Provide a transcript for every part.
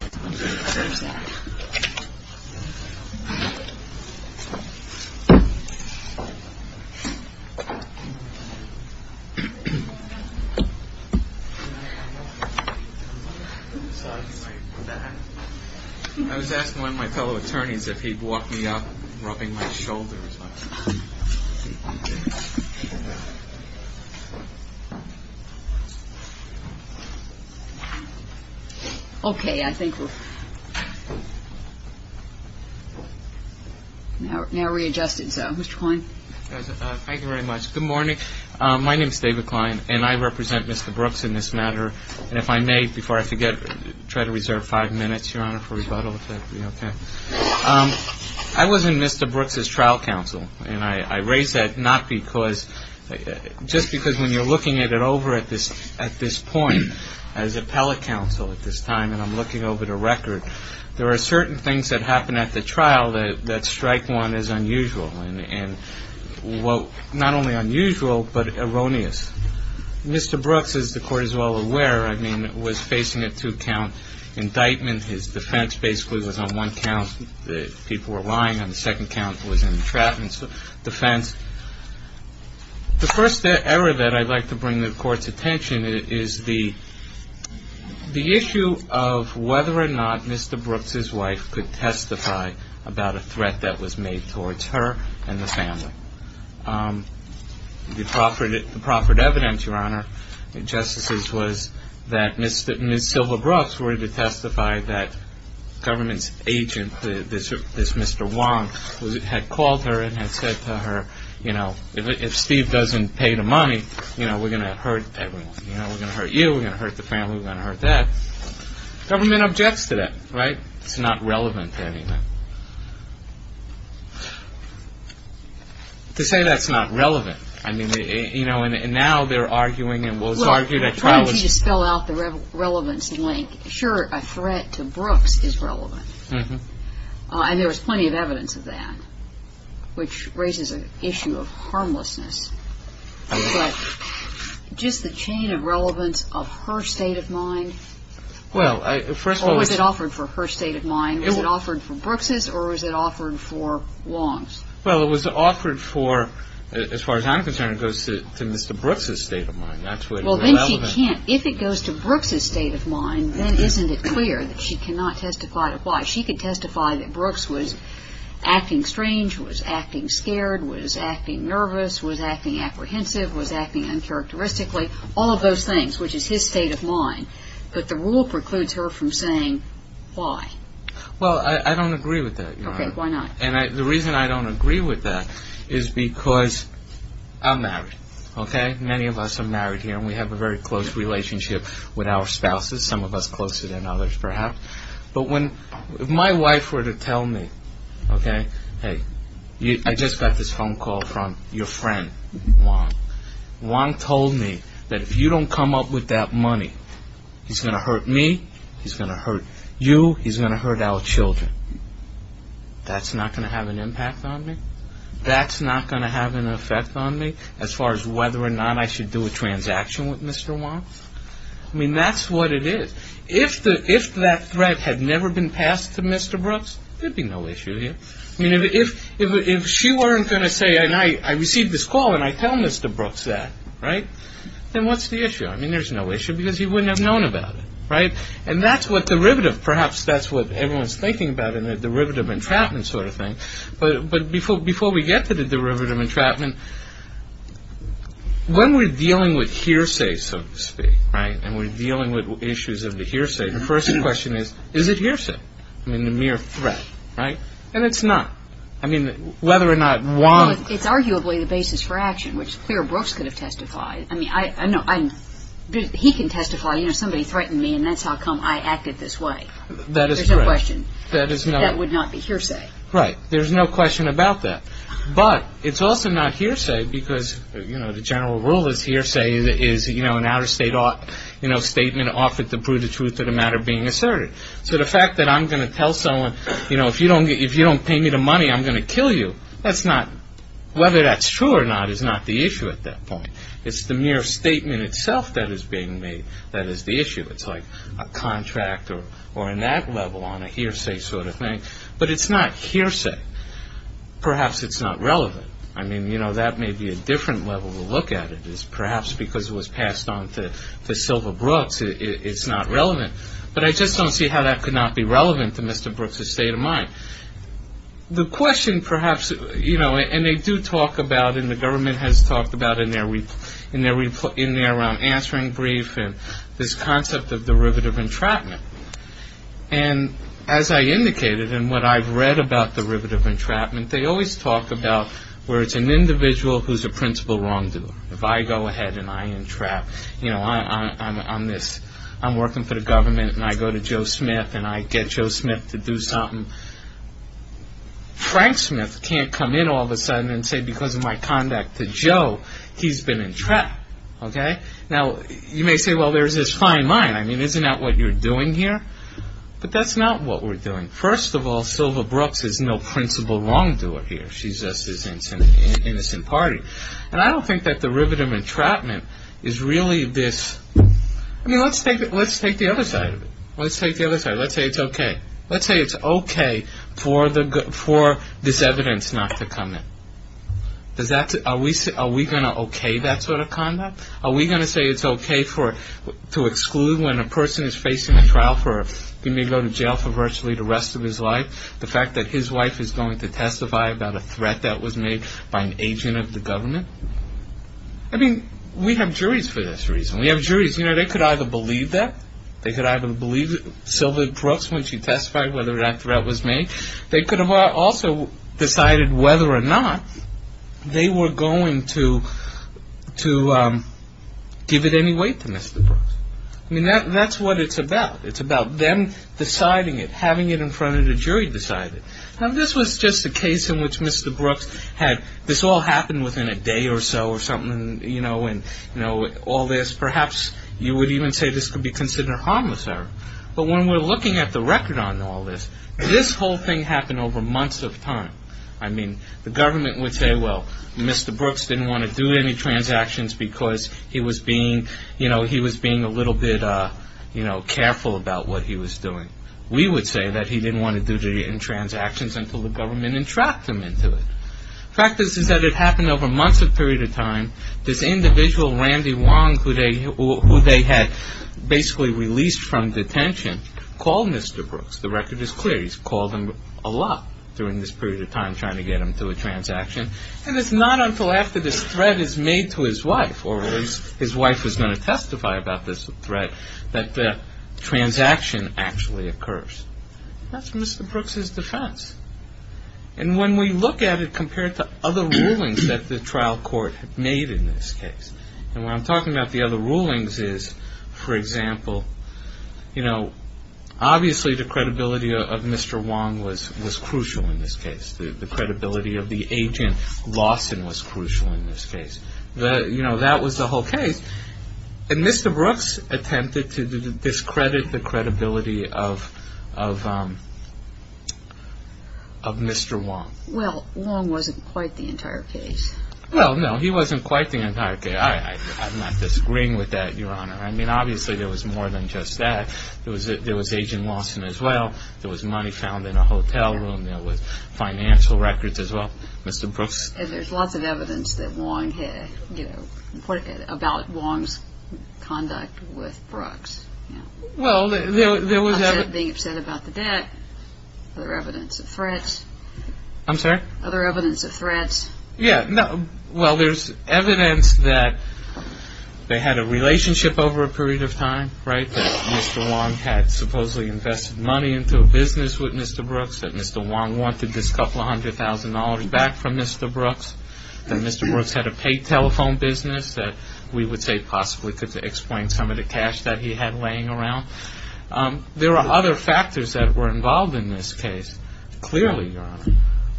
I was asking one of my fellow attorneys if he'd walk me up rubbing my shoulder as well. Okay. I think we're now readjusted. So, Mr. Klein. Thank you very much. Good morning. My name is David Klein, and I represent Mr. Brooks in this matter. And if I may, before I forget, try to reserve five minutes, Your Honor, for rebuttal, if that would be okay. I was in Mr. Brooks' trial counsel, and I raise that not because, just because when you're looking at it over at this point, as appellate counsel at this time, and I'm looking over the record, there are certain things that happen at the trial that strike one as unusual. And, well, not only unusual, but erroneous. Mr. Brooks, as the Court is well aware, I mean, was facing a two-count indictment. His defense basically was on one count that people were lying, and the second count was an entrapment defense. The first error that I'd like to bring to the Court's attention is the issue of whether or not Mr. Brooks' wife could testify about a threat that was made towards her and the family. The proffered evidence, Your Honor, in justices was that Ms. Sylva Brooks were to testify that government's agent, this Mr. Wong, had called her and had said to her, you know, if Steve doesn't pay the money, you know, we're going to hurt everyone. You know, we're going to hurt you, we're going to hurt the family, we're going to hurt that. Government objects to that, right? It's not relevant to any of that. To say that's not relevant, I mean, you know, and now they're arguing, and it was argued at trial. Well, I don't need to spell out the relevance in length. Sure, a threat to Brooks is relevant. And there was plenty of evidence of that, which raises an issue of harmlessness. But just the chain of relevance of her state of mind, or was it offered for her state of mind? Was it offered for Brooks' or was it offered for Wong's? Well, it was offered for, as far as I'm concerned, it goes to Mr. Brooks' state of mind. Well, then she can't, if it goes to Brooks' state of mind, then isn't it clear that she cannot testify to why? She could testify that Brooks was acting strange, was acting scared, was acting nervous, was acting apprehensive, was acting uncharacteristically, all of those things, which is his state of mind, but the rule precludes her from saying why. Well, I don't agree with that. Okay, why not? And the reason I don't agree with that is because I'm married, okay? Many of us are married here, and we have a very close relationship with our spouses, some of us closer than others, perhaps. But if my wife were to tell me, okay, hey, I just got this phone call from your friend, Wong. Wong told me that if you don't come up with that money, he's going to hurt me, he's going to hurt you, he's going to hurt our children. That's not going to have an impact on me? That's not going to have an effect on me as far as whether or not I should do a transaction with Mr. Wong? I mean, that's what it is. If that threat had never been passed to Mr. Brooks, there'd be no issue here. I mean, if she weren't going to say, and I received this call and I tell Mr. Brooks that, right, then what's the issue? I mean, there's no issue because he wouldn't have known about it, right? And that's what derivative, perhaps that's what everyone's thinking about in the derivative entrapment sort of thing. But before we get to the derivative entrapment, when we're dealing with hearsay, so to speak, right, and we're dealing with issues of the hearsay, the first question is, is it hearsay? I mean, the mere threat, right? And it's not. I mean, whether or not Wong- Well, it's arguably the basis for action, which Clare Brooks could have testified. I mean, I know he can testify, you know, somebody threatened me, and that's how come I acted this way. There's no question. That is not- That would not be hearsay. Right. There's no question about that. But it's also not hearsay because, you know, the general rule is hearsay is, you know, an out-of-state, you know, statement offered to prove the truth of the matter being asserted. So the fact that I'm going to tell someone, you know, if you don't pay me the money, I'm going to kill you, that's not- It's the mere statement itself that is being made that is the issue. It's like a contract or in that level on a hearsay sort of thing. But it's not hearsay. Perhaps it's not relevant. I mean, you know, that may be a different level to look at it is perhaps because it was passed on to Silva Brooks. It's not relevant. But I just don't see how that could not be relevant to Mr. Brooks' state of mind. The question perhaps, you know, and they do talk about and the government has talked about in their- in their answering brief and this concept of derivative entrapment. And as I indicated and what I've read about derivative entrapment, they always talk about where it's an individual who's a principal wrongdoer. If I go ahead and I entrap, you know, I'm this- and I go to Joe Smith and I get Joe Smith to do something, Frank Smith can't come in all of a sudden and say because of my conduct to Joe, he's been entrapped. Okay? Now, you may say, well, there's this fine line. I mean, isn't that what you're doing here? But that's not what we're doing. First of all, Silva Brooks is no principal wrongdoer here. She's just this innocent party. And I don't think that derivative entrapment is really this- I mean, let's take the other side of it. Let's take the other side. Let's say it's okay. Let's say it's okay for this evidence not to come in. Are we going to okay that sort of conduct? Are we going to say it's okay to exclude when a person is facing a trial for- he may go to jail for virtually the rest of his life, the fact that his wife is going to testify about a threat that was made by an agent of the government? I mean, we have juries for this reason. We have juries. You know, they could either believe that. They could either believe Silva Brooks when she testified whether that threat was made. They could have also decided whether or not they were going to give it any weight to Mr. Brooks. I mean, that's what it's about. It's about them deciding it, having it in front of the jury to decide it. Now, this was just a case in which Mr. Brooks had- all this, perhaps you would even say this could be considered harmless error. But when we're looking at the record on all this, this whole thing happened over months of time. I mean, the government would say, well, Mr. Brooks didn't want to do any transactions because he was being a little bit careful about what he was doing. We would say that he didn't want to do the transactions until the government entrapped him into it. The fact is that it happened over months of period of time. This individual, Randy Wong, who they had basically released from detention, called Mr. Brooks. The record is clear. He's called him a lot during this period of time trying to get him to a transaction. And it's not until after this threat is made to his wife, or his wife is going to testify about this threat, that the transaction actually occurs. That's Mr. Brooks' defense. And when we look at it compared to other rulings that the trial court made in this case, and what I'm talking about the other rulings is, for example, obviously the credibility of Mr. Wong was crucial in this case. The credibility of the agent, Lawson, was crucial in this case. That was the whole case. And Mr. Brooks attempted to discredit the credibility of Mr. Wong. Well, Wong wasn't quite the entire case. Well, no, he wasn't quite the entire case. I'm not disagreeing with that, Your Honor. I mean, obviously there was more than just that. There was Agent Lawson as well. There was money found in a hotel room. There was financial records as well. Mr. Brooks? And there's lots of evidence that Wong had, you know, about Wong's conduct with Brooks. Well, there was evidence. Being upset about the debt. Other evidence of threats. I'm sorry? Other evidence of threats. Yeah. Well, there's evidence that they had a relationship over a period of time, right, that Mr. Wong had supposedly invested money into a business with Mr. Brooks, that Mr. Wong wanted this couple hundred thousand dollars back from Mr. Brooks, that Mr. Brooks had a paid telephone business that we would say possibly could explain some of the cash that he had laying around. There are other factors that were involved in this case, clearly, Your Honor.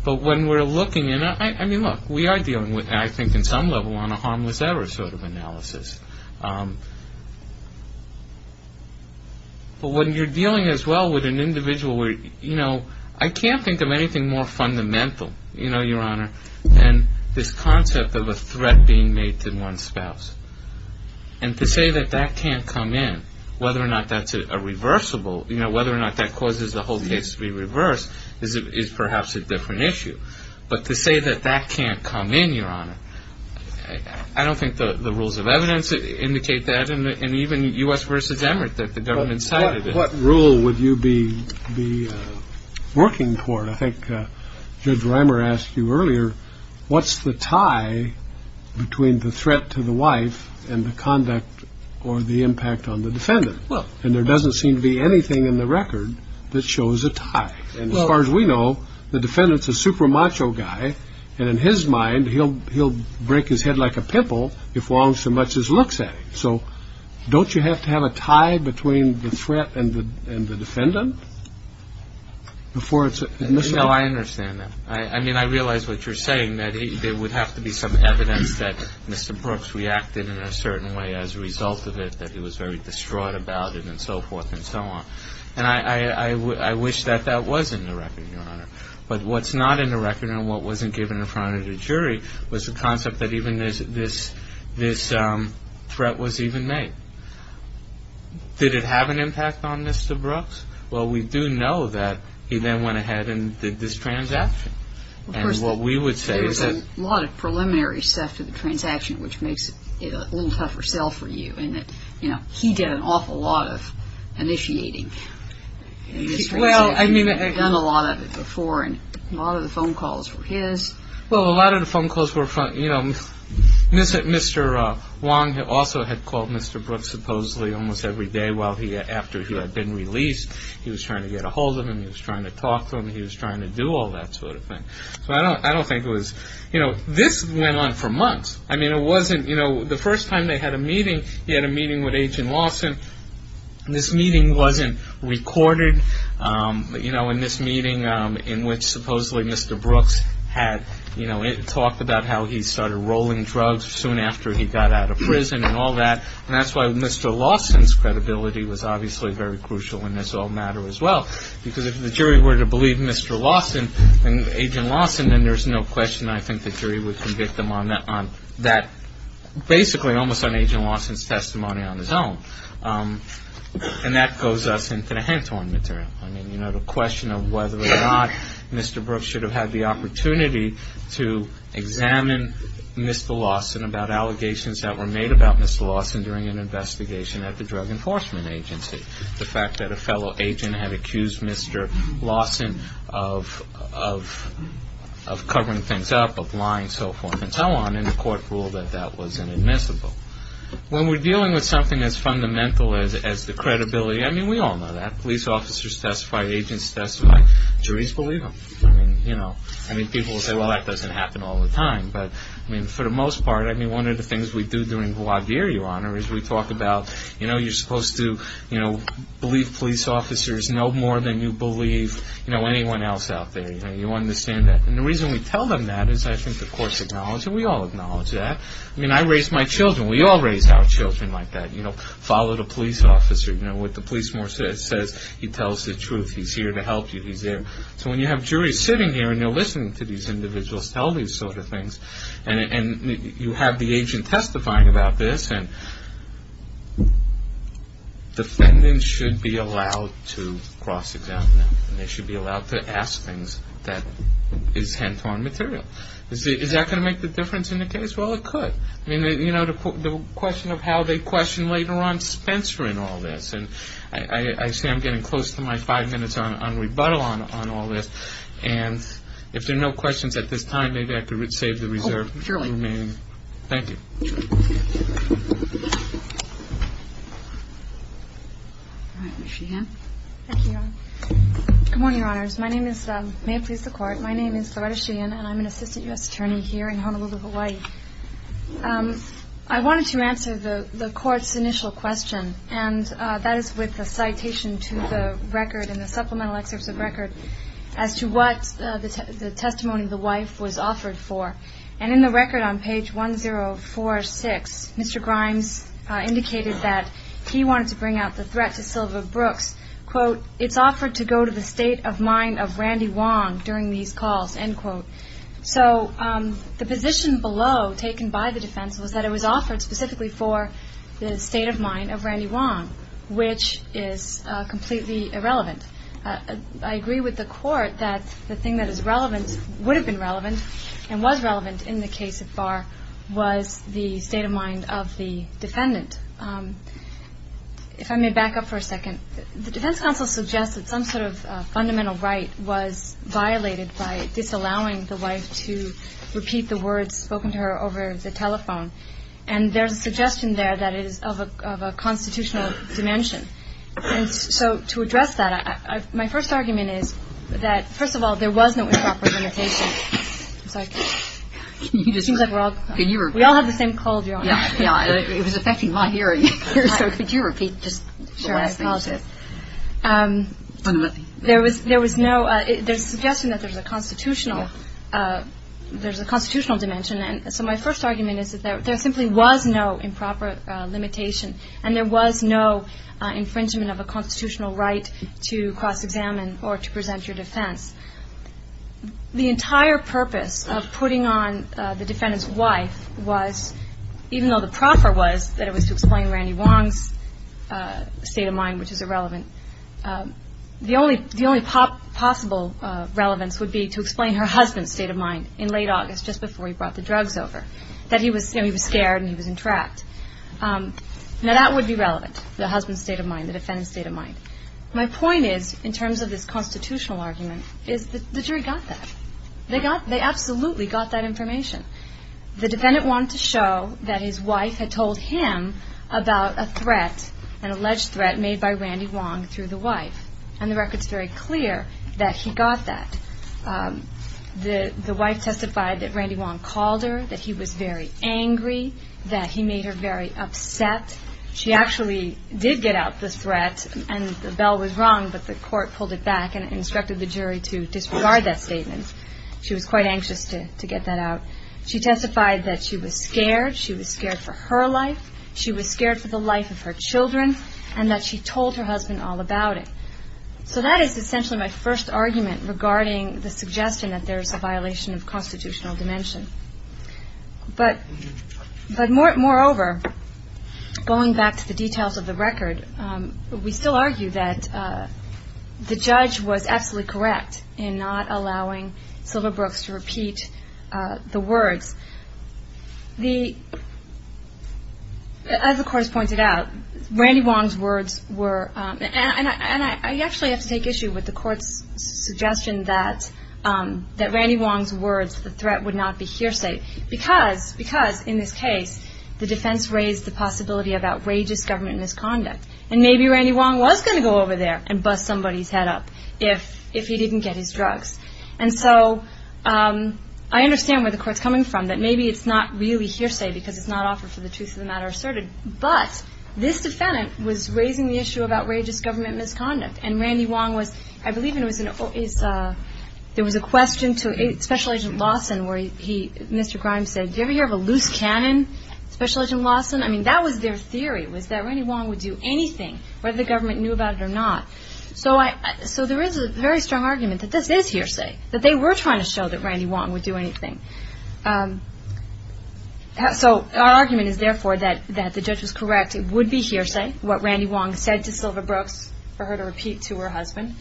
But when we're looking at it, I mean, look, we are dealing with it, I think, in some level on a harmless error sort of analysis. But when you're dealing as well with an individual where, you know, I can't think of anything more fundamental, you know, Your Honor, than this concept of a threat being made to one's spouse. And to say that that can't come in, whether or not that's a reversible, you know, whether or not that causes the whole case to be reversed is perhaps a different issue. But to say that that can't come in, Your Honor, I don't think the rules of evidence indicate that. And even U.S. v. Emmert, that the government cited it. What rule would you be working toward? I think Judge Reimer asked you earlier, what's the tie between the threat to the wife and the conduct or the impact on the defendant? And there doesn't seem to be anything in the record that shows a tie. And as far as we know, the defendant's a super macho guy. And in his mind, he'll break his head like a pimple if Wong so much as looks at him. So don't you have to have a tie between the threat and the defendant before it's a missile? No, I understand that. I mean, I realize what you're saying, that there would have to be some evidence that Mr. Brooks reacted in a certain way as a result of it, that he was very distraught about it and so forth and so on. And I wish that that was in the record, Your Honor. But what's not in the record and what wasn't given in front of the jury was the concept that even this threat was even made. Did it have an impact on Mr. Brooks? Well, we do know that he then went ahead and did this transaction. And what we would say is that- There was a lot of preliminary stuff to the transaction, which makes it a little tougher sell for you, in that he did an awful lot of initiating in this transaction. Well, I mean- He had done a lot of it before and a lot of the phone calls were his. Well, a lot of the phone calls were from- Mr. Wong also had called Mr. Brooks supposedly almost every day after he had been released. He was trying to get a hold of him. He was trying to talk to him. He was trying to do all that sort of thing. So I don't think it was- This went on for months. I mean, it wasn't- The first time they had a meeting, he had a meeting with Agent Lawson. This meeting wasn't recorded in this meeting in which supposedly Mr. Brooks had talked about how he started rolling drugs soon after he got out of prison and all that. And that's why Mr. Lawson's credibility was obviously very crucial in this whole matter as well. Because if the jury were to believe Mr. Lawson and Agent Lawson, then there's no question I think the jury would convict them on that- And that goes us into the Hentorn material. I mean, you know, the question of whether or not Mr. Brooks should have had the opportunity to examine Mr. Lawson about allegations that were made about Mr. Lawson during an investigation at the Drug Enforcement Agency. The fact that a fellow agent had accused Mr. Lawson of covering things up, of lying, so forth and so on, and the court ruled that that was inadmissible. When we're dealing with something as fundamental as the credibility, I mean, we all know that. Police officers testify. Agents testify. Juries believe them. I mean, people will say, well, that doesn't happen all the time. But for the most part, one of the things we do during the law year, Your Honor, is we talk about you're supposed to believe police officers no more than you believe anyone else out there. You understand that. And the reason we tell them that is I think the courts acknowledge it. We all acknowledge that. I mean, I raise my children. We all raise our children like that. You know, follow the police officer. You know, what the police says, he tells the truth. He's here to help you. He's there. So when you have juries sitting here and they're listening to these individuals tell these sort of things, and you have the agent testifying about this, defendants should be allowed to cross-examine them. They should be allowed to ask things that is hand-drawn material. Is that going to make the difference in the case? Well, it could. I mean, you know, the question of how they question later on Spencer in all this. And I see I'm getting close to my five minutes on rebuttal on all this. And if there are no questions at this time, maybe I could save the reserve for the remaining. Oh, surely. Thank you. All right. Ms. Sheehan. Thank you, Your Honor. Good morning, Your Honors. My name is May It Please the Court. My name is Loretta Sheehan, and I'm an assistant U.S. attorney here in Honolulu, Hawaii. I wanted to answer the Court's initial question, and that is with a citation to the record in the supplemental excerpts of record as to what the testimony of the wife was offered for. And in the record on page 1046, Mr. Grimes indicated that he wanted to bring out the threat to Sylva Brooks. Quote, It's offered to go to the state of mind of Randy Wong during these calls, end quote. So the position below taken by the defense was that it was offered specifically for the state of mind of Randy Wong, which is completely irrelevant. I agree with the Court that the thing that is relevant would have been relevant and was relevant in the case of Barr was the state of mind of the defendant. If I may back up for a second, the defense counsel suggests that some sort of fundamental right was violated by disallowing the wife to repeat the words spoken to her over the telephone. And there's a suggestion there that it is of a constitutional dimension. So to address that, my first argument is that, first of all, there was no improper limitation. I'm sorry. It seems like we're all – we all have the same cold, Your Honor. Yeah, it was affecting my hearing. Could you repeat just the last thing you said? Sure, I apologize. There was no – there's a suggestion that there's a constitutional dimension. So my first argument is that there simply was no improper limitation and there was no infringement of a constitutional right to cross-examine or to present your defense. The entire purpose of putting on the defendant's wife was, even though the proffer was that it was to explain Randy Wong's state of mind, which is irrelevant, the only possible relevance would be to explain her husband's state of mind in late August, just before he brought the drugs over, that he was scared and he was entrapped. Now, that would be relevant, the husband's state of mind, the defendant's state of mind. My point is, in terms of this constitutional argument, is that the jury got that. They got – they absolutely got that information. The defendant wanted to show that his wife had told him about a threat, an alleged threat made by Randy Wong through the wife. And the record's very clear that he got that. The wife testified that Randy Wong called her, that he was very angry, that he made her very upset. She actually did get out the threat, and the bell was rung, but the court pulled it back and instructed the jury to disregard that statement. She was quite anxious to get that out. She testified that she was scared. She was scared for her life. She was scared for the life of her children, and that she told her husband all about it. So that is essentially my first argument regarding the suggestion that there is a violation of constitutional dimension. But moreover, going back to the details of the record, we still argue that the judge was absolutely correct in not allowing Silverbrooks to repeat the words. As the court has pointed out, Randy Wong's words were – and I actually have to take issue with the court's suggestion that Randy Wong's words, the threat, would not be hearsay, because in this case the defense raised the possibility of outrageous government misconduct. And maybe Randy Wong was going to go over there and bust somebody's head up if he didn't get his drugs. And so I understand where the court's coming from, that maybe it's not really hearsay because it's not offered for the truth of the matter asserted. But this defendant was raising the issue of outrageous government misconduct, and Randy Wong was – I believe there was a question to Special Agent Lawson where Mr. Grimes said, do you ever hear of a loose cannon, Special Agent Lawson? I mean, that was their theory, was that Randy Wong would do anything, whether the government knew about it or not. So there is a very strong argument that this is hearsay, that they were trying to show that Randy Wong would do anything. So our argument is therefore that the judge was correct. It would be hearsay, what Randy Wong said to Sylva Brooks, for her to repeat to her husband.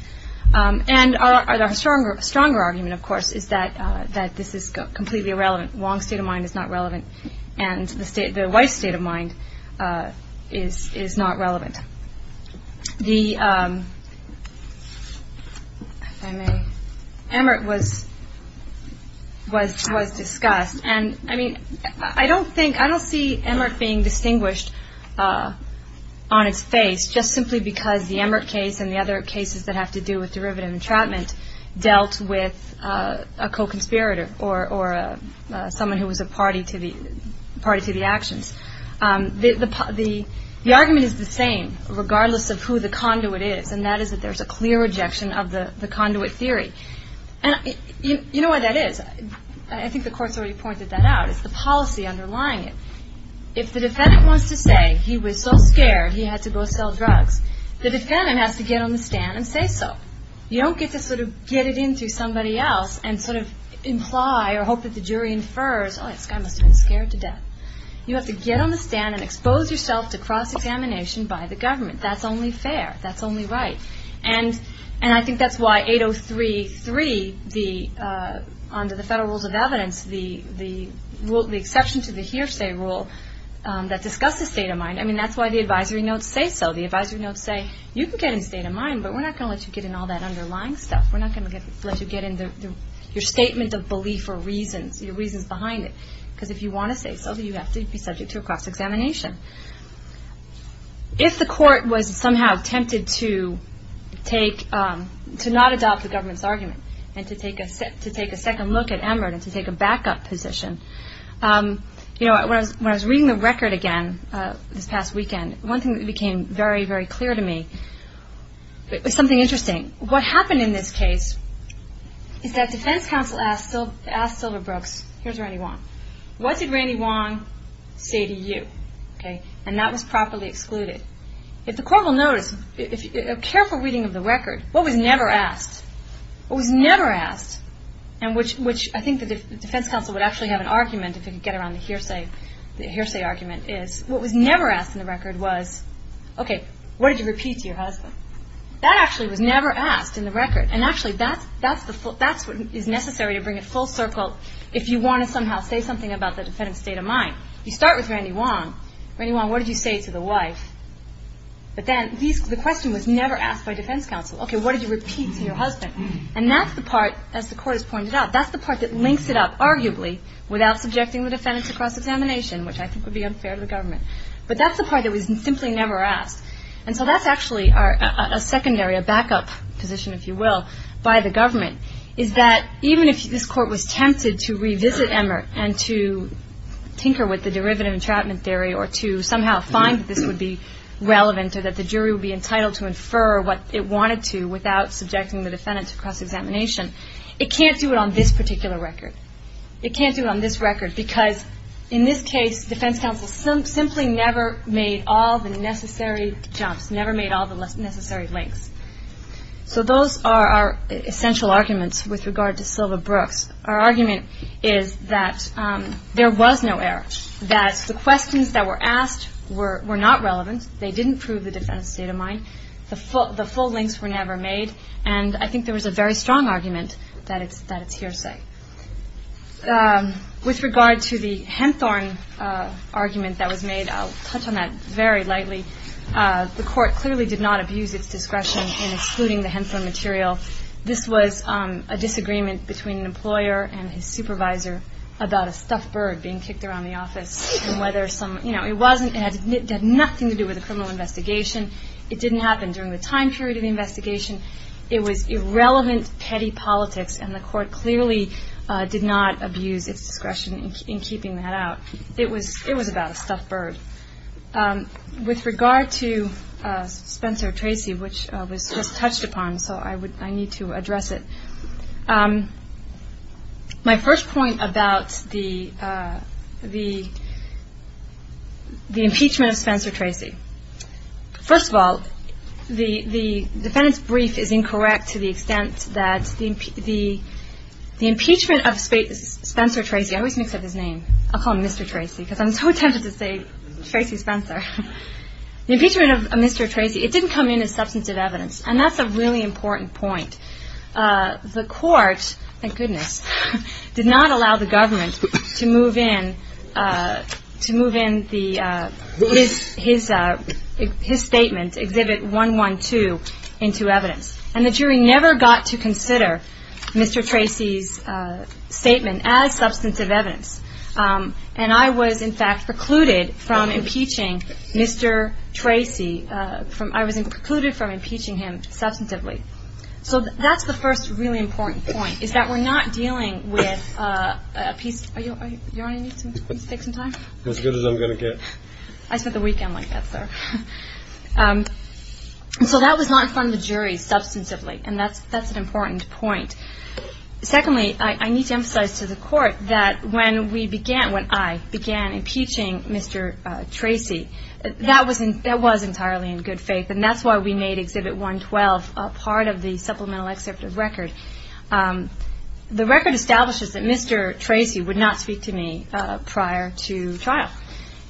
And our stronger argument, of course, is that this is completely irrelevant. Wong's state of mind is not relevant, and the wife's state of mind is not relevant. The – if I may – Emmert was discussed. And, I mean, I don't think – I don't see Emmert being distinguished on its face just simply because the Emmert case and the other cases that have to do with derivative entrapment dealt with a co-conspirator or someone who was a party to the actions. The argument is the same, regardless of who the conduit is, and that is that there is a clear rejection of the conduit theory. And you know why that is. I think the court's already pointed that out. It's the policy underlying it. If the defendant wants to say he was so scared he had to go sell drugs, the defendant has to get on the stand and say so. You don't get to sort of get it in through somebody else and sort of imply or hope that the jury infers, oh, this guy must have been scared to death. You have to get on the stand and expose yourself to cross-examination by the government. That's only fair. That's only right. And I think that's why 803.3, under the Federal Rules of Evidence, the exception to the hearsay rule that discusses state of mind, I mean, that's why the advisory notes say so. The advisory notes say you can get in state of mind, but we're not going to let you get in all that underlying stuff. We're not going to let you get in your statement of belief or reasons, your reasons behind it, because if you want to say so, you have to be subject to a cross-examination. If the court was somehow tempted to not adopt the government's argument and to take a second look at Emmerd and to take a backup position, you know, when I was reading the record again this past weekend, one thing that became very, very clear to me was something interesting. What happened in this case is that defense counsel asked Silverbrooks, here's Randy Wong, what did Randy Wong say to you? And that was properly excluded. If the court will notice, a careful reading of the record, what was never asked? What was never asked, and which I think the defense counsel would actually have an argument if it could get around the hearsay argument, is what was never asked in the record was, okay, what did you repeat to your husband? That actually was never asked in the record, and actually that's what is necessary to bring it full circle if you want to somehow say something about the defendant's state of mind. You start with Randy Wong. Randy Wong, what did you say to the wife? But then the question was never asked by defense counsel. Okay, what did you repeat to your husband? And that's the part, as the court has pointed out, that's the part that links it up, arguably, without subjecting the defendant to cross-examination, which I think would be unfair to the government. But that's the part that was simply never asked. And so that's actually a secondary, a backup position, if you will, by the government, is that even if this court was tempted to revisit Emmer and to tinker with the derivative entrapment theory or to somehow find that this would be relevant or that the jury would be entitled to infer what it wanted to without subjecting the defendant to cross-examination, it can't do it on this particular record. It can't do it on this record because, in this case, defense counsel simply never made all the necessary jumps, never made all the necessary links. So those are our essential arguments with regard to Sylva Brooks. Our argument is that there was no error, that the questions that were asked were not relevant, they didn't prove the defendant's state of mind, the full links were never made, and I think there was a very strong argument that it's hearsay. With regard to the Hempthorne argument that was made, I'll touch on that very lightly. The court clearly did not abuse its discretion in excluding the Hempthorne material. This was a disagreement between an employer and his supervisor about a stuffed bird being kicked around the office. It had nothing to do with the criminal investigation. It didn't happen during the time period of the investigation. It was irrelevant, petty politics, and the court clearly did not abuse its discretion in keeping that out. It was about a stuffed bird. With regard to Spencer Tracy, which was just touched upon, so I need to address it. My first point about the impeachment of Spencer Tracy. First of all, the defendant's brief is incorrect to the extent that the impeachment of Spencer Tracy, I always mix up his name, I'll call him Mr. Tracy because I'm so tempted to say Tracy Spencer. The impeachment of Mr. Tracy, it didn't come in as substantive evidence and that's a really important point. The court, thank goodness, did not allow the government to move in his statement, Exhibit 112, into evidence and the jury never got to consider Mr. Tracy's statement as substantive evidence and I was, in fact, precluded from impeaching Mr. Tracy. I was precluded from impeaching him substantively. So that's the first really important point is that we're not dealing with a piece. You want me to take some time? As good as I'm going to get. I spent the weekend like that, sir. So that was not in front of the jury substantively and that's an important point. Secondly, I need to emphasize to the court that when we began, when I began impeaching Mr. Tracy, that was entirely in good faith and that's why we made Exhibit 112 a part of the supplemental excerpt of record. The record establishes that Mr. Tracy would not speak to me prior to trial.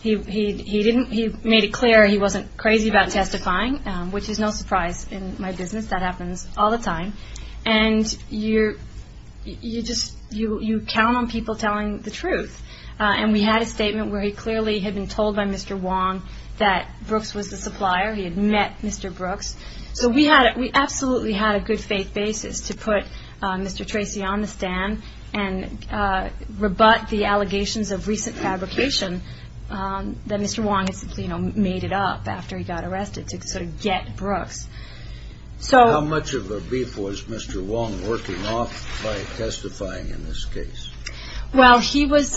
He made it clear he wasn't crazy about testifying, which is no surprise in my business. That happens all the time and you just count on people telling the truth and we had a statement where he clearly had been told by Mr. Wong that Brooks was the supplier. He had met Mr. Brooks. So we absolutely had a good faith basis to put Mr. Tracy on the stand and rebut the allegations of recent fabrication that Mr. Wong had made it up after he got arrested to sort of get Brooks. How much of a beef was Mr. Wong working off by testifying in this case? Well, he was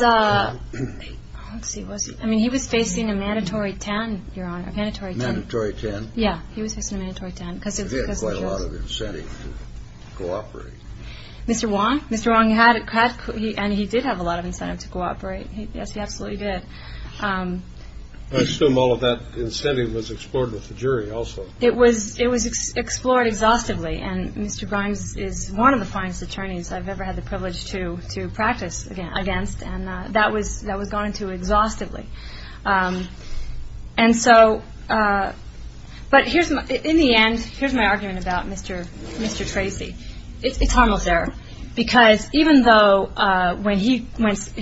facing a mandatory 10, Your Honor. Mandatory 10? Yeah, he was facing a mandatory 10. He had quite a lot of incentive to cooperate. Mr. Wong? Mr. Wong had and he did have a lot of incentive to cooperate. Yes, he absolutely did. I assume all of that incentive was explored with the jury also. It was explored exhaustively and Mr. Brimes is one of the finest attorneys I've ever had the privilege to practice against and that was gone to exhaustively. But in the end, here's my argument about Mr. Tracy. It's almost there because even though when he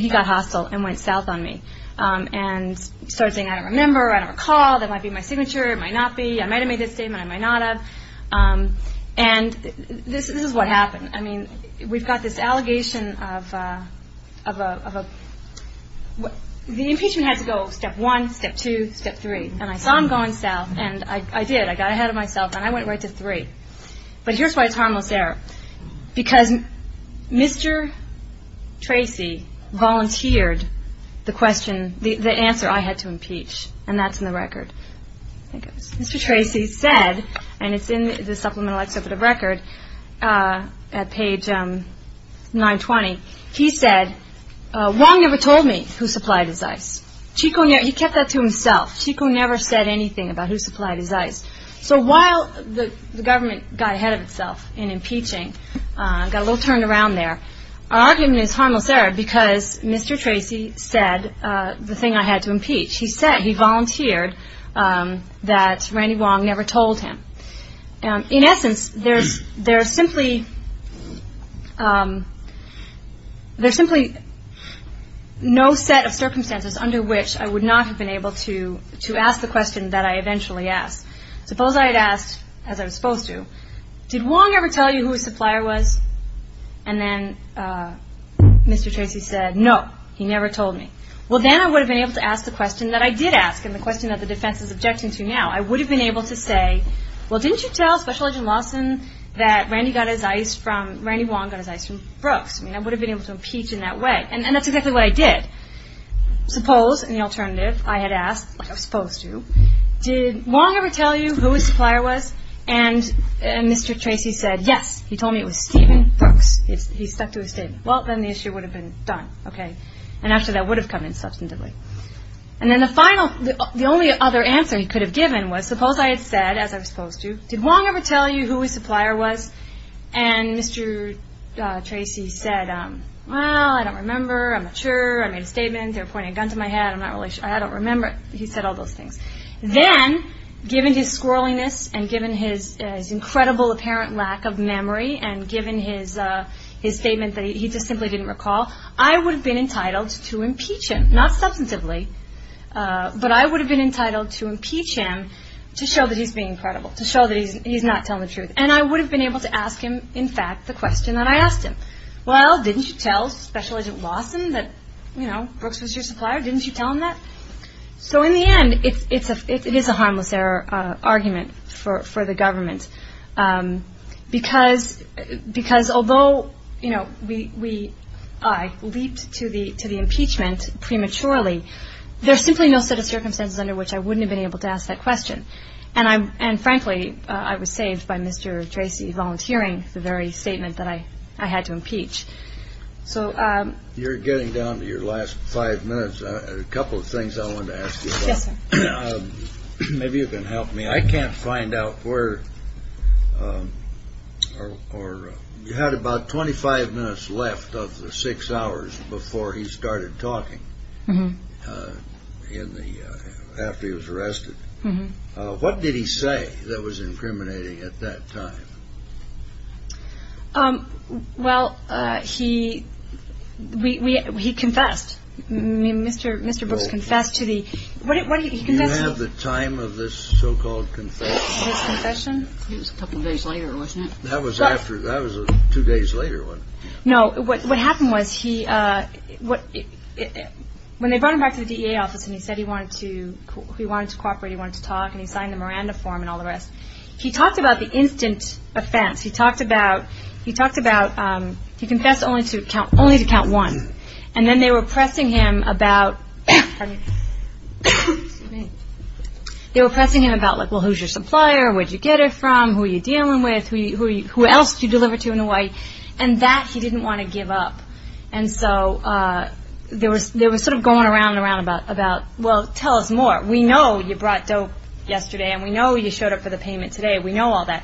got hostile and went south on me and started saying, I don't remember, I don't recall, that might be my signature, it might not be, I might have made this statement, I might not have, and this is what happened. I mean, we've got this allegation of a, the impeachment had to go step one, step two, step three, and I saw him going south and I did, I got ahead of myself and I went right to three. But here's why it's almost there. Because Mr. Tracy volunteered the question, the answer I had to impeach, and that's in the record. Mr. Tracy said, and it's in the supplemental exhibit of record at page 920, he said Wong never told me who supplied his ice. Chico, he kept that to himself. Chico never said anything about who supplied his ice. So while the government got ahead of itself in impeaching, got a little turned around there, our argument is harmless error because Mr. Tracy said the thing I had to impeach. He said he volunteered that Randy Wong never told him. In essence, there's simply no set of circumstances under which I would not have been able to ask the question that I eventually asked. Suppose I had asked, as I was supposed to, did Wong ever tell you who his supplier was? And then Mr. Tracy said, no, he never told me. Well, then I would have been able to ask the question that I did ask and the question that the defense is objecting to now. I would have been able to say, well, didn't you tell Special Agent Lawson that Randy Wong got his ice from Brooks? I mean, I would have been able to impeach in that way. And that's exactly what I did. Suppose, in the alternative, I had asked, as I was supposed to, did Wong ever tell you who his supplier was? And Mr. Tracy said, yes, he told me it was Stephen Brooks. He stuck to his statement. Well, then the issue would have been done, okay? And actually that would have come in substantively. And then the final, the only other answer he could have given was, suppose I had said, as I was supposed to, did Wong ever tell you who his supplier was? And Mr. Tracy said, well, I don't remember. I'm not sure. I made a statement. They were pointing a gun to my head. I'm not really sure. I don't remember. He said all those things. Then, given his squirreliness and given his incredible apparent lack of memory and given his statement that he just simply didn't recall, I would have been entitled to impeach him. Not substantively, but I would have been entitled to impeach him to show that he's being credible, to show that he's not telling the truth. And I would have been able to ask him, in fact, the question that I asked him. Well, didn't you tell Special Agent Lawson that, you know, Brooks was your supplier? Didn't you tell him that? So, in the end, it is a harmless argument for the government because, although, you know, we leaped to the impeachment prematurely, there's simply no set of circumstances under which I wouldn't have been able to ask that question. And, frankly, I was saved by Mr. Tracy volunteering the very statement that I had to impeach. You're getting down to your last five minutes. A couple of things I wanted to ask you about. Yes, sir. Maybe you can help me. I can't find out where or you had about 25 minutes left of the six hours before he started talking after he was arrested. What did he say that was incriminating at that time? Well, he confessed. Mr. Brooks confessed to the – what did he confess to? Do you have the time of this so-called confession? His confession? It was a couple of days later, wasn't it? That was after. That was a two days later one. No, what happened was he – when they brought him back to the DEA office and he said he wanted to cooperate, he wanted to talk, and he signed the Miranda form and all the rest, he talked about the instant offense. He talked about – he confessed only to count one. And then they were pressing him about, well, who's your supplier? Where did you get her from? Who are you dealing with? Who else did you deliver to in a way? And that he didn't want to give up. And so they were sort of going around and around about, well, tell us more. We know you brought dope yesterday, and we know you showed up for the payment today. We know all that.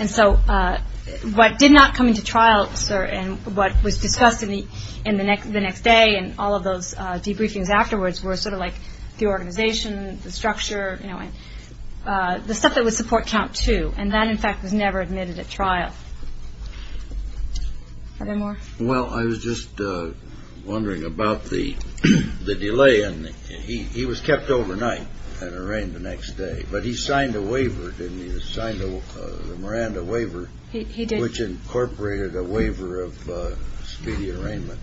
And so what did not come into trial, sir, and what was discussed in the next day and all of those debriefings afterwards were sort of like the organization, the structure, the stuff that would support count two, and that, in fact, was never admitted at trial. Are there more? Well, I was just wondering about the delay. He was kept overnight and arraigned the next day, but he signed a waiver, didn't he? He signed the Miranda waiver, which incorporated a waiver of speedy arraignment.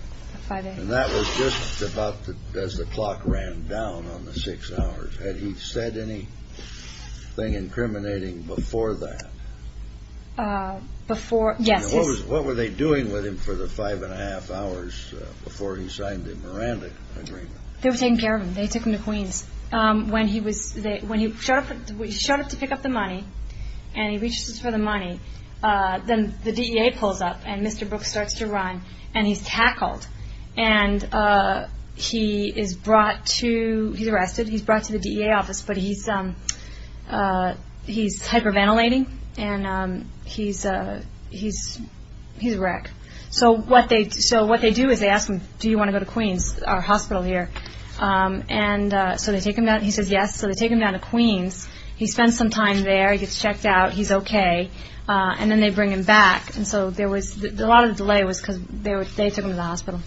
And that was just about as the clock ran down on the six hours. Had he said anything incriminating before that? Before, yes. And what were they doing with him for the five and a half hours before he signed the Miranda agreement? They were taking care of him. They took him to Queens. When he showed up to pick up the money and he reaches for the money, then the DEA pulls up and Mr. Brooks starts to run, and he's tackled. And he is brought to, he's arrested, he's brought to the DEA office, but he's hyperventilating and he's wrecked. So what they do is they ask him, do you want to go to Queens, our hospital here? And so they take him down. He says yes. So they take him down to Queens. He spends some time there. He gets checked out. He's okay. And then they bring him back. And so there was, a lot of the delay was because they took him to the hospital.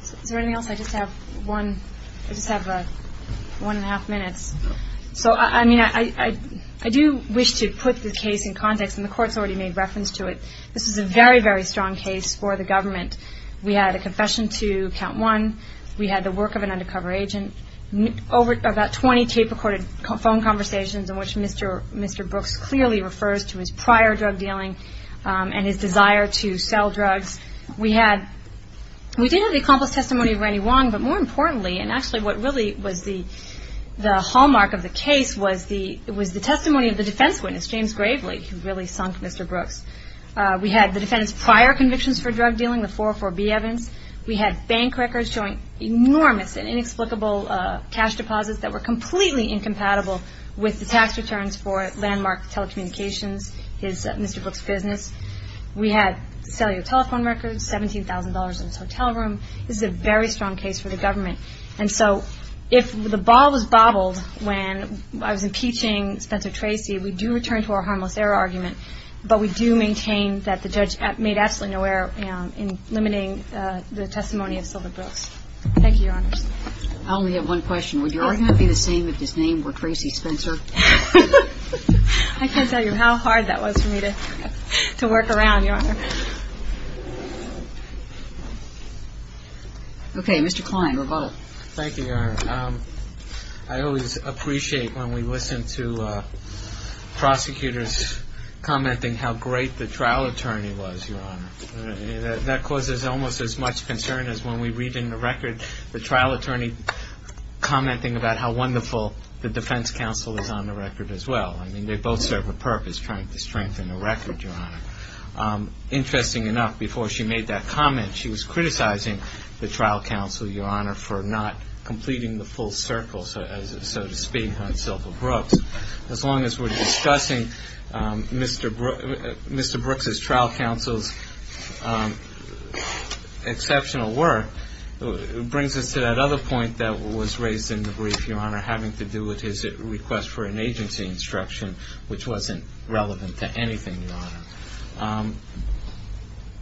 Is there anything else? I just have one, I just have one and a half minutes. So, I mean, I do wish to put the case in context, and the Court's already made reference to it. This is a very, very strong case for the government. We had a confession to count one. We had the work of an undercover agent. About 20 tape-recorded phone conversations in which Mr. Brooks clearly refers to his prior drug dealing and his desire to sell drugs. We had, we did have the accomplished testimony of Randy Wong, but more importantly, and actually what really was the hallmark of the case was the testimony of the defense witness, James Gravely, who really sunk Mr. Brooks. We had the defense's prior convictions for drug dealing, the 404B evidence. We had bank records showing enormous and inexplicable cash deposits that were completely incompatible with the tax returns for landmark telecommunications, Mr. Brooks' business. We had cellular telephone records, $17,000 in his hotel room. This is a very strong case for the government. And so if the ball was bobbled when I was impeaching Spencer Tracy, we do return to our harmless error argument, but we do maintain that the judge made absolutely no error in limiting the testimony of Silver Brooks. Thank you, Your Honors. I only have one question. Would your argument be the same if his name were Tracy Spencer? I can't tell you how hard that was for me to work around, Your Honor. Okay. Mr. Kline, rebuttal. Thank you, Your Honor. I always appreciate when we listen to prosecutors commenting how great the trial attorney was, Your Honor. That causes almost as much concern as when we read in the record the trial attorney commenting about how wonderful the defense counsel is on the record as well. I mean, they both serve a purpose, trying to strengthen the record, Your Honor. Interesting enough, before she made that comment, she was criticizing the trial counsel, Your Honor, for not completing the full circle, so to speak, on Silver Brooks. As long as we're discussing Mr. Brooks' trial counsel's exceptional work, it brings us to that other point that was raised in the brief, Your Honor, having to do with his request for an agency instruction, which wasn't relevant to anything, Your Honor.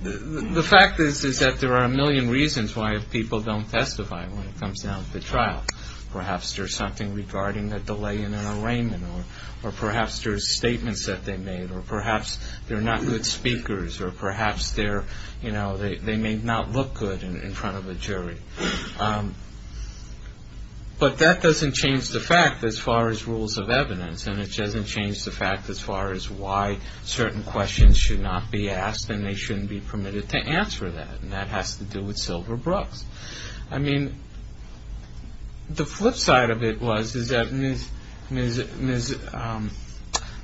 The fact is that there are a million reasons why people don't testify when it comes down to the trial. Perhaps there's something regarding a delay in an arraignment, or perhaps there's statements that they made, or perhaps they're not good speakers, or perhaps they may not look good in front of a jury. But that doesn't change the fact as far as rules of evidence, and it doesn't change the fact as far as why certain questions should not be asked and they shouldn't be permitted to answer that, and that has to do with Silver Brooks. I mean, the flip side of it was that Ms.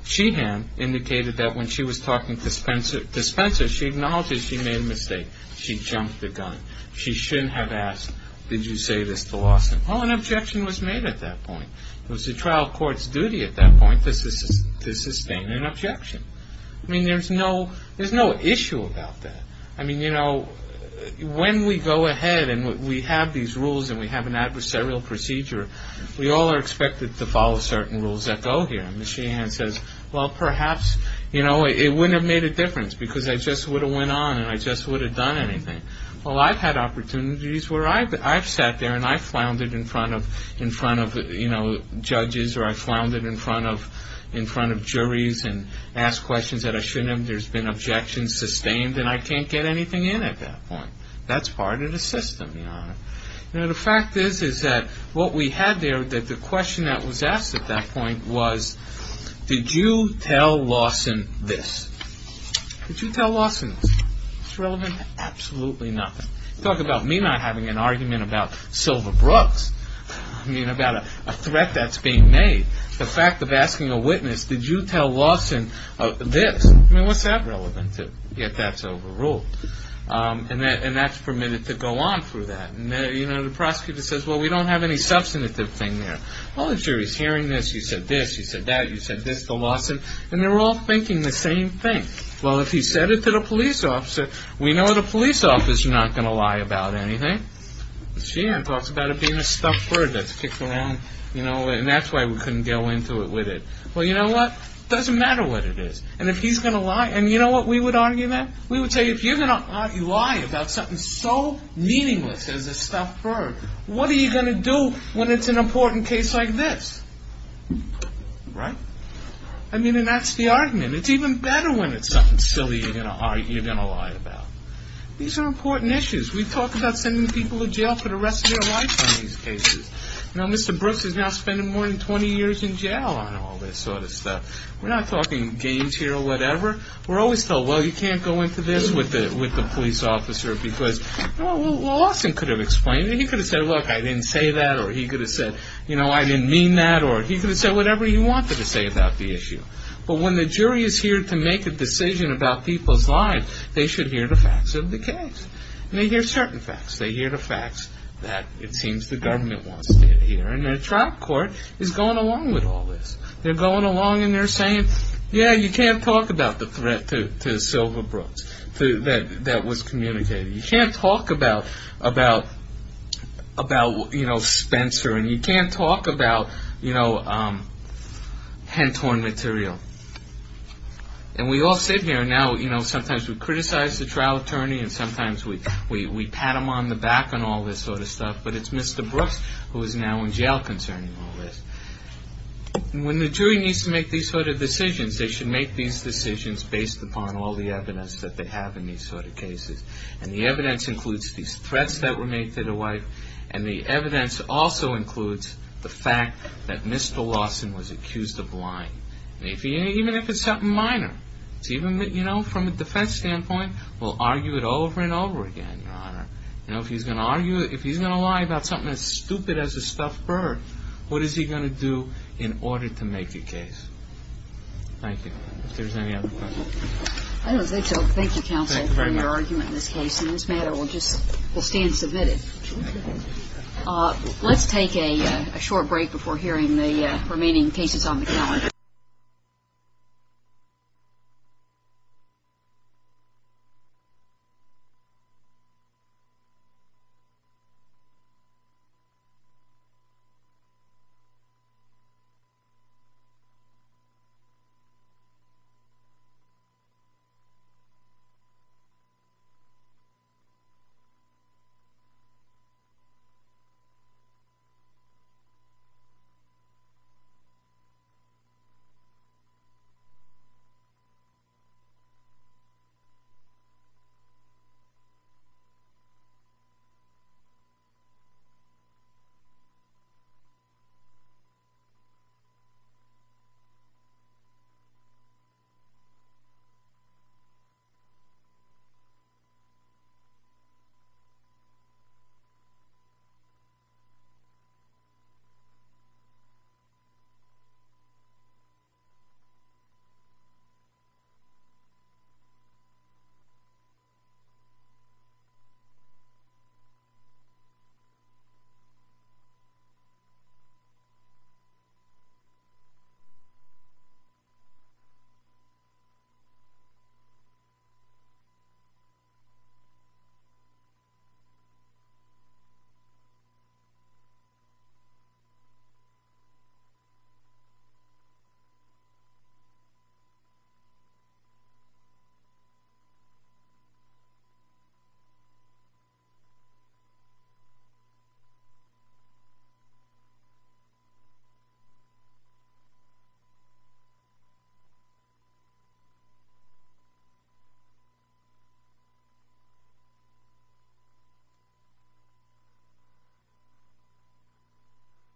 Sheehan indicated that when she was talking to Spencer, she acknowledged that she made a mistake. She jumped the gun. She shouldn't have asked, did you say this to Lawson? Well, an objection was made at that point. It was the trial court's duty at that point to sustain an objection. I mean, there's no issue about that. I mean, you know, when we go ahead and we have these rules and we have an adversarial procedure, we all are expected to follow certain rules that go here, and Ms. Sheehan says, well, perhaps, you know, it wouldn't have made a difference because I just would have went on and I just would have done anything. Well, I've had opportunities where I've sat there and I've floundered in front of judges or I've floundered in front of juries and asked questions that I shouldn't have. And there's been objections sustained and I can't get anything in at that point. That's part of the system, you know. You know, the fact is that what we had there, that the question that was asked at that point was, did you tell Lawson this? Did you tell Lawson this? Was it relevant? Absolutely not. Talk about me not having an argument about Silva Brooks. I mean, about a threat that's being made. The fact of asking a witness, did you tell Lawson this? I mean, what's that relevant if that's overruled? And that's permitted to go on through that. You know, the prosecutor says, well, we don't have any substantive thing there. Well, the jury's hearing this, you said this, you said that, you said this to Lawson, and they're all thinking the same thing. Well, if he said it to the police officer, we know the police officer's not going to lie about anything. And that's why we couldn't go into it with it. Well, you know what? It doesn't matter what it is. And if he's going to lie, and you know what we would argue then? We would say, if you're going to lie about something so meaningless as a stuffed bird, what are you going to do when it's an important case like this? Right? I mean, and that's the argument. It's even better when it's something silly you're going to lie about. These are important issues. We've talked about sending people to jail for the rest of their lives on these cases. You know, Mr. Brooks is now spending more than 20 years in jail on all this sort of stuff. We're not talking games here or whatever. We're always told, well, you can't go into this with the police officer because, well, Lawson could have explained it. He could have said, look, I didn't say that, or he could have said, you know, I didn't mean that, or he could have said whatever he wanted to say about the issue. But when the jury is here to make a decision about people's lives, they should hear the facts of the case. And they hear certain facts. They hear the facts that it seems the government wants to hear. And the trial court is going along with all this. They're going along and they're saying, yeah, you can't talk about the threat to Silva Brooks that was communicated. You can't talk about, you know, Spencer, and you can't talk about, you know, Hentorn material. And we all sit here now, you know, sometimes we criticize the trial attorney and sometimes we pat him on the back on all this sort of stuff, but it's Mr. Brooks who is now in jail concerning all this. When the jury needs to make these sort of decisions, they should make these decisions based upon all the evidence that they have in these sort of cases. And the evidence includes these threats that were made to the wife, and the evidence also includes the fact that Mr. Lawson was accused of lying. Even if it's something minor, even, you know, from a defense standpoint, we'll argue it over and over again, Your Honor. You know, if he's going to argue it, if he's going to lie about something as stupid as a stuffed bird, what is he going to do in order to make a case? Thank you. If there's any other questions. I don't think so. Thank you, counsel, for your argument in this case. And this matter will just stand submitted. Let's take a short break before hearing the remaining cases on the calendar. Thank you. Thank you. Thank you. Thank you.